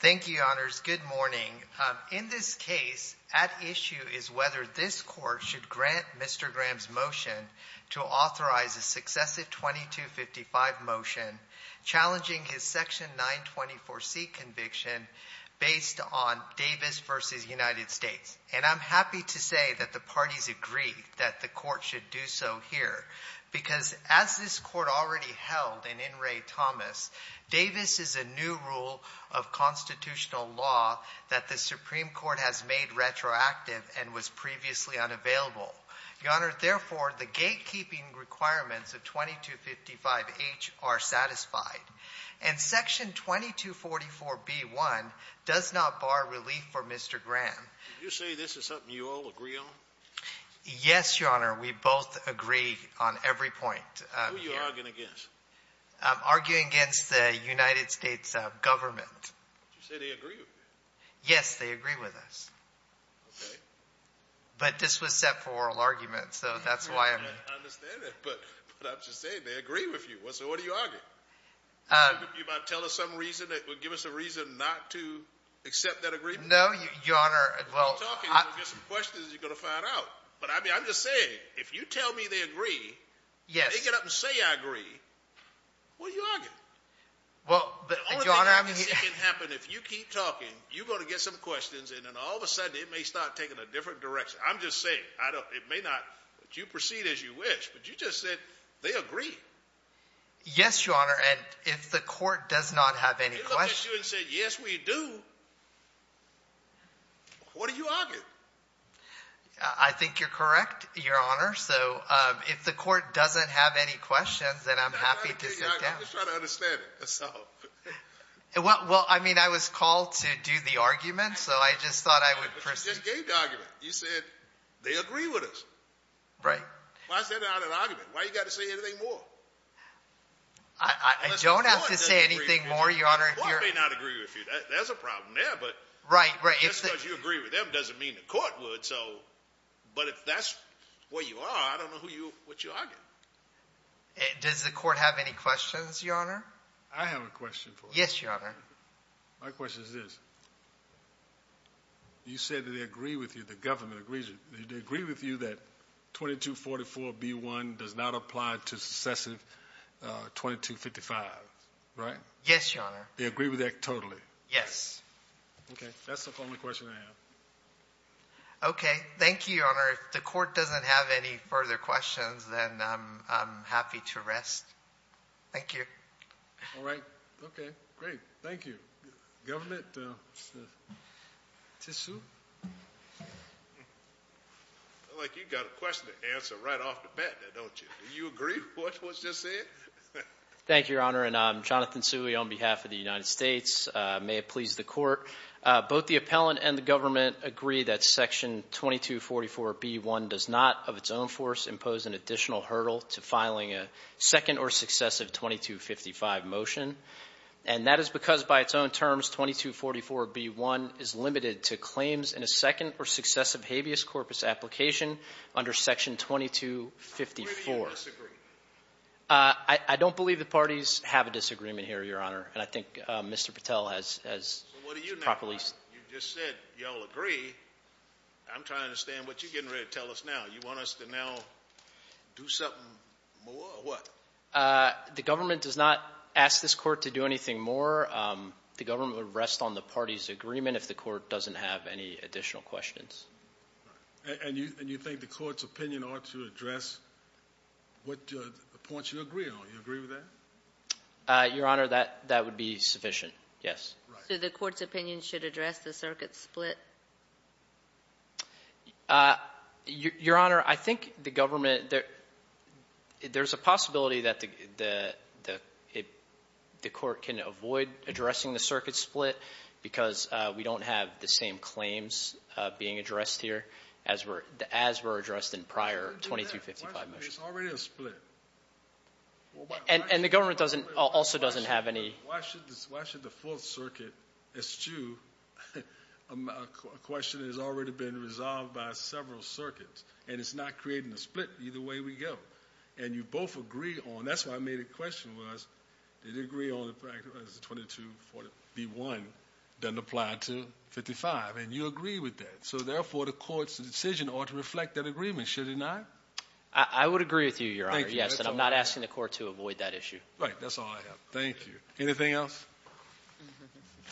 Thank you, Your Honors. Good morning. In this case, at issue is whether this Court should grant Mr. Graham's motion to authorize a successive 2255 motion challenging his Section 924C conviction based on Davis v. United States. And I'm happy to say that the parties agree that the Court should do so here, because as this Court already held in In re. Thomas, Davis is a new rule of constitutional law that the Supreme Court has made retroactive and was previously unavailable. Your Honor, therefore, the gatekeeping requirements of 2255H are satisfied. And Section 2244B1 does not bar relief for Mr. Graham. Did you say this is something you all agree on? Yes, Your Honor. We both agree on every point. Who are you arguing against? I'm arguing against the United States government. Did you say they agree with you? Yes, they agree with us. Okay. But this was set for oral argument, so that's why I'm... I understand that, but I'm just saying they agree with you. So what do you argue? You might tell us some reason that would give us a reason not to accept that agreement? No, Your Honor, well... If you keep talking, you're going to get some questions you're going to find out. But I mean, I'm just saying, if you tell me they agree, and they get up and say, I agree, what are you arguing? Well, Your Honor, I mean... The only thing I can see can happen if you keep talking, you're going to get some questions, and then all of a sudden, it may start taking a different direction. I'm just saying, I don't... It may not, but you proceed as you wish. But you just said they agree. Yes, Your Honor. And if the Court does not have any questions... What are you arguing? I think you're correct, Your Honor. So if the Court doesn't have any questions, then I'm happy to sit down. I'm just trying to understand it. Well, I mean, I was called to do the argument, so I just thought I would proceed. But you just gave the argument. You said they agree with us. Right. Why is that not an argument? Why you got to say anything more? I don't have to say anything more, Your Honor. Well, I may not agree with you. That's a problem there, but... Just because you agree with them doesn't mean the Court would. But if that's where you are, I don't know what you're arguing. Does the Court have any questions, Your Honor? I have a question for you. Yes, Your Honor. My question is this. You said that they agree with you, the government agrees with you. They agree with you that 2244B1 does not apply to successive 2255, right? Yes, Your Honor. They agree with that totally? Yes. Okay. That's the only question I have. Okay. Thank you, Your Honor. If the Court doesn't have any further questions, then I'm happy to rest. Thank you. All right. Okay. Great. Thank you. Government? Tissot? I feel like you got a question to answer right off the bat there, don't you? Do you agree with what was just said? Thank you, Your Honor. And I'm Jonathan Tsui on behalf of the United States. May it please the Court. Both the appellant and the government agree that Section 2244B1 does not, of its own force, impose an additional hurdle to filing a second or successive 2255 motion. And that is because, by its own terms, 2244B1 is limited to claims in a second or successive habeas corpus application under Section 2254. Do you agree or disagree? I don't believe the parties have a disagreement here, Your Honor. And I think Mr. Patel has properly— So what do you now have? You just said you all agree. I'm trying to understand what you're getting ready to tell us now. You want us to now do something more or what? The government does not ask this Court to do anything more. The government will rest on the parties' agreement if the Court doesn't have any additional questions. And you think the Court's opinion ought to address what points you agree on. You agree with that? Your Honor, that would be sufficient, yes. So the Court's opinion should address the circuit split? Your Honor, I think the government— There's a possibility that the Court can avoid addressing the circuit split because we don't have the same claims being addressed here as were addressed in prior 2255 motions. It's already a split. And the government also doesn't have any— Why should the Fourth Circuit eschew a question that has already been resolved by several circuits, and it's not creating a split either way we go? And you both agree on—that's why I made a question was, did you agree on the fact that 2241 doesn't apply to 55? And you agree with that. So therefore, the Court's decision ought to reflect that agreement, should it not? I would agree with you, Your Honor, yes. And I'm not asking the Court to avoid that issue. Right, that's all I have. Thank you. Anything else?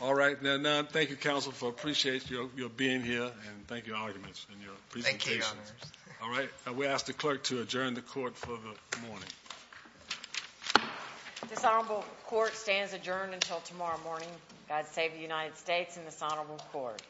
All right. Now, Nunn, thank you, counsel, for appreciating your being here, and thank you, arguments, and your presentation. Thank you, Your Honor. All right. We ask the Clerk to adjourn the Court for the morning. This honorable Court stands adjourned until tomorrow morning. God save the United States and this honorable Court.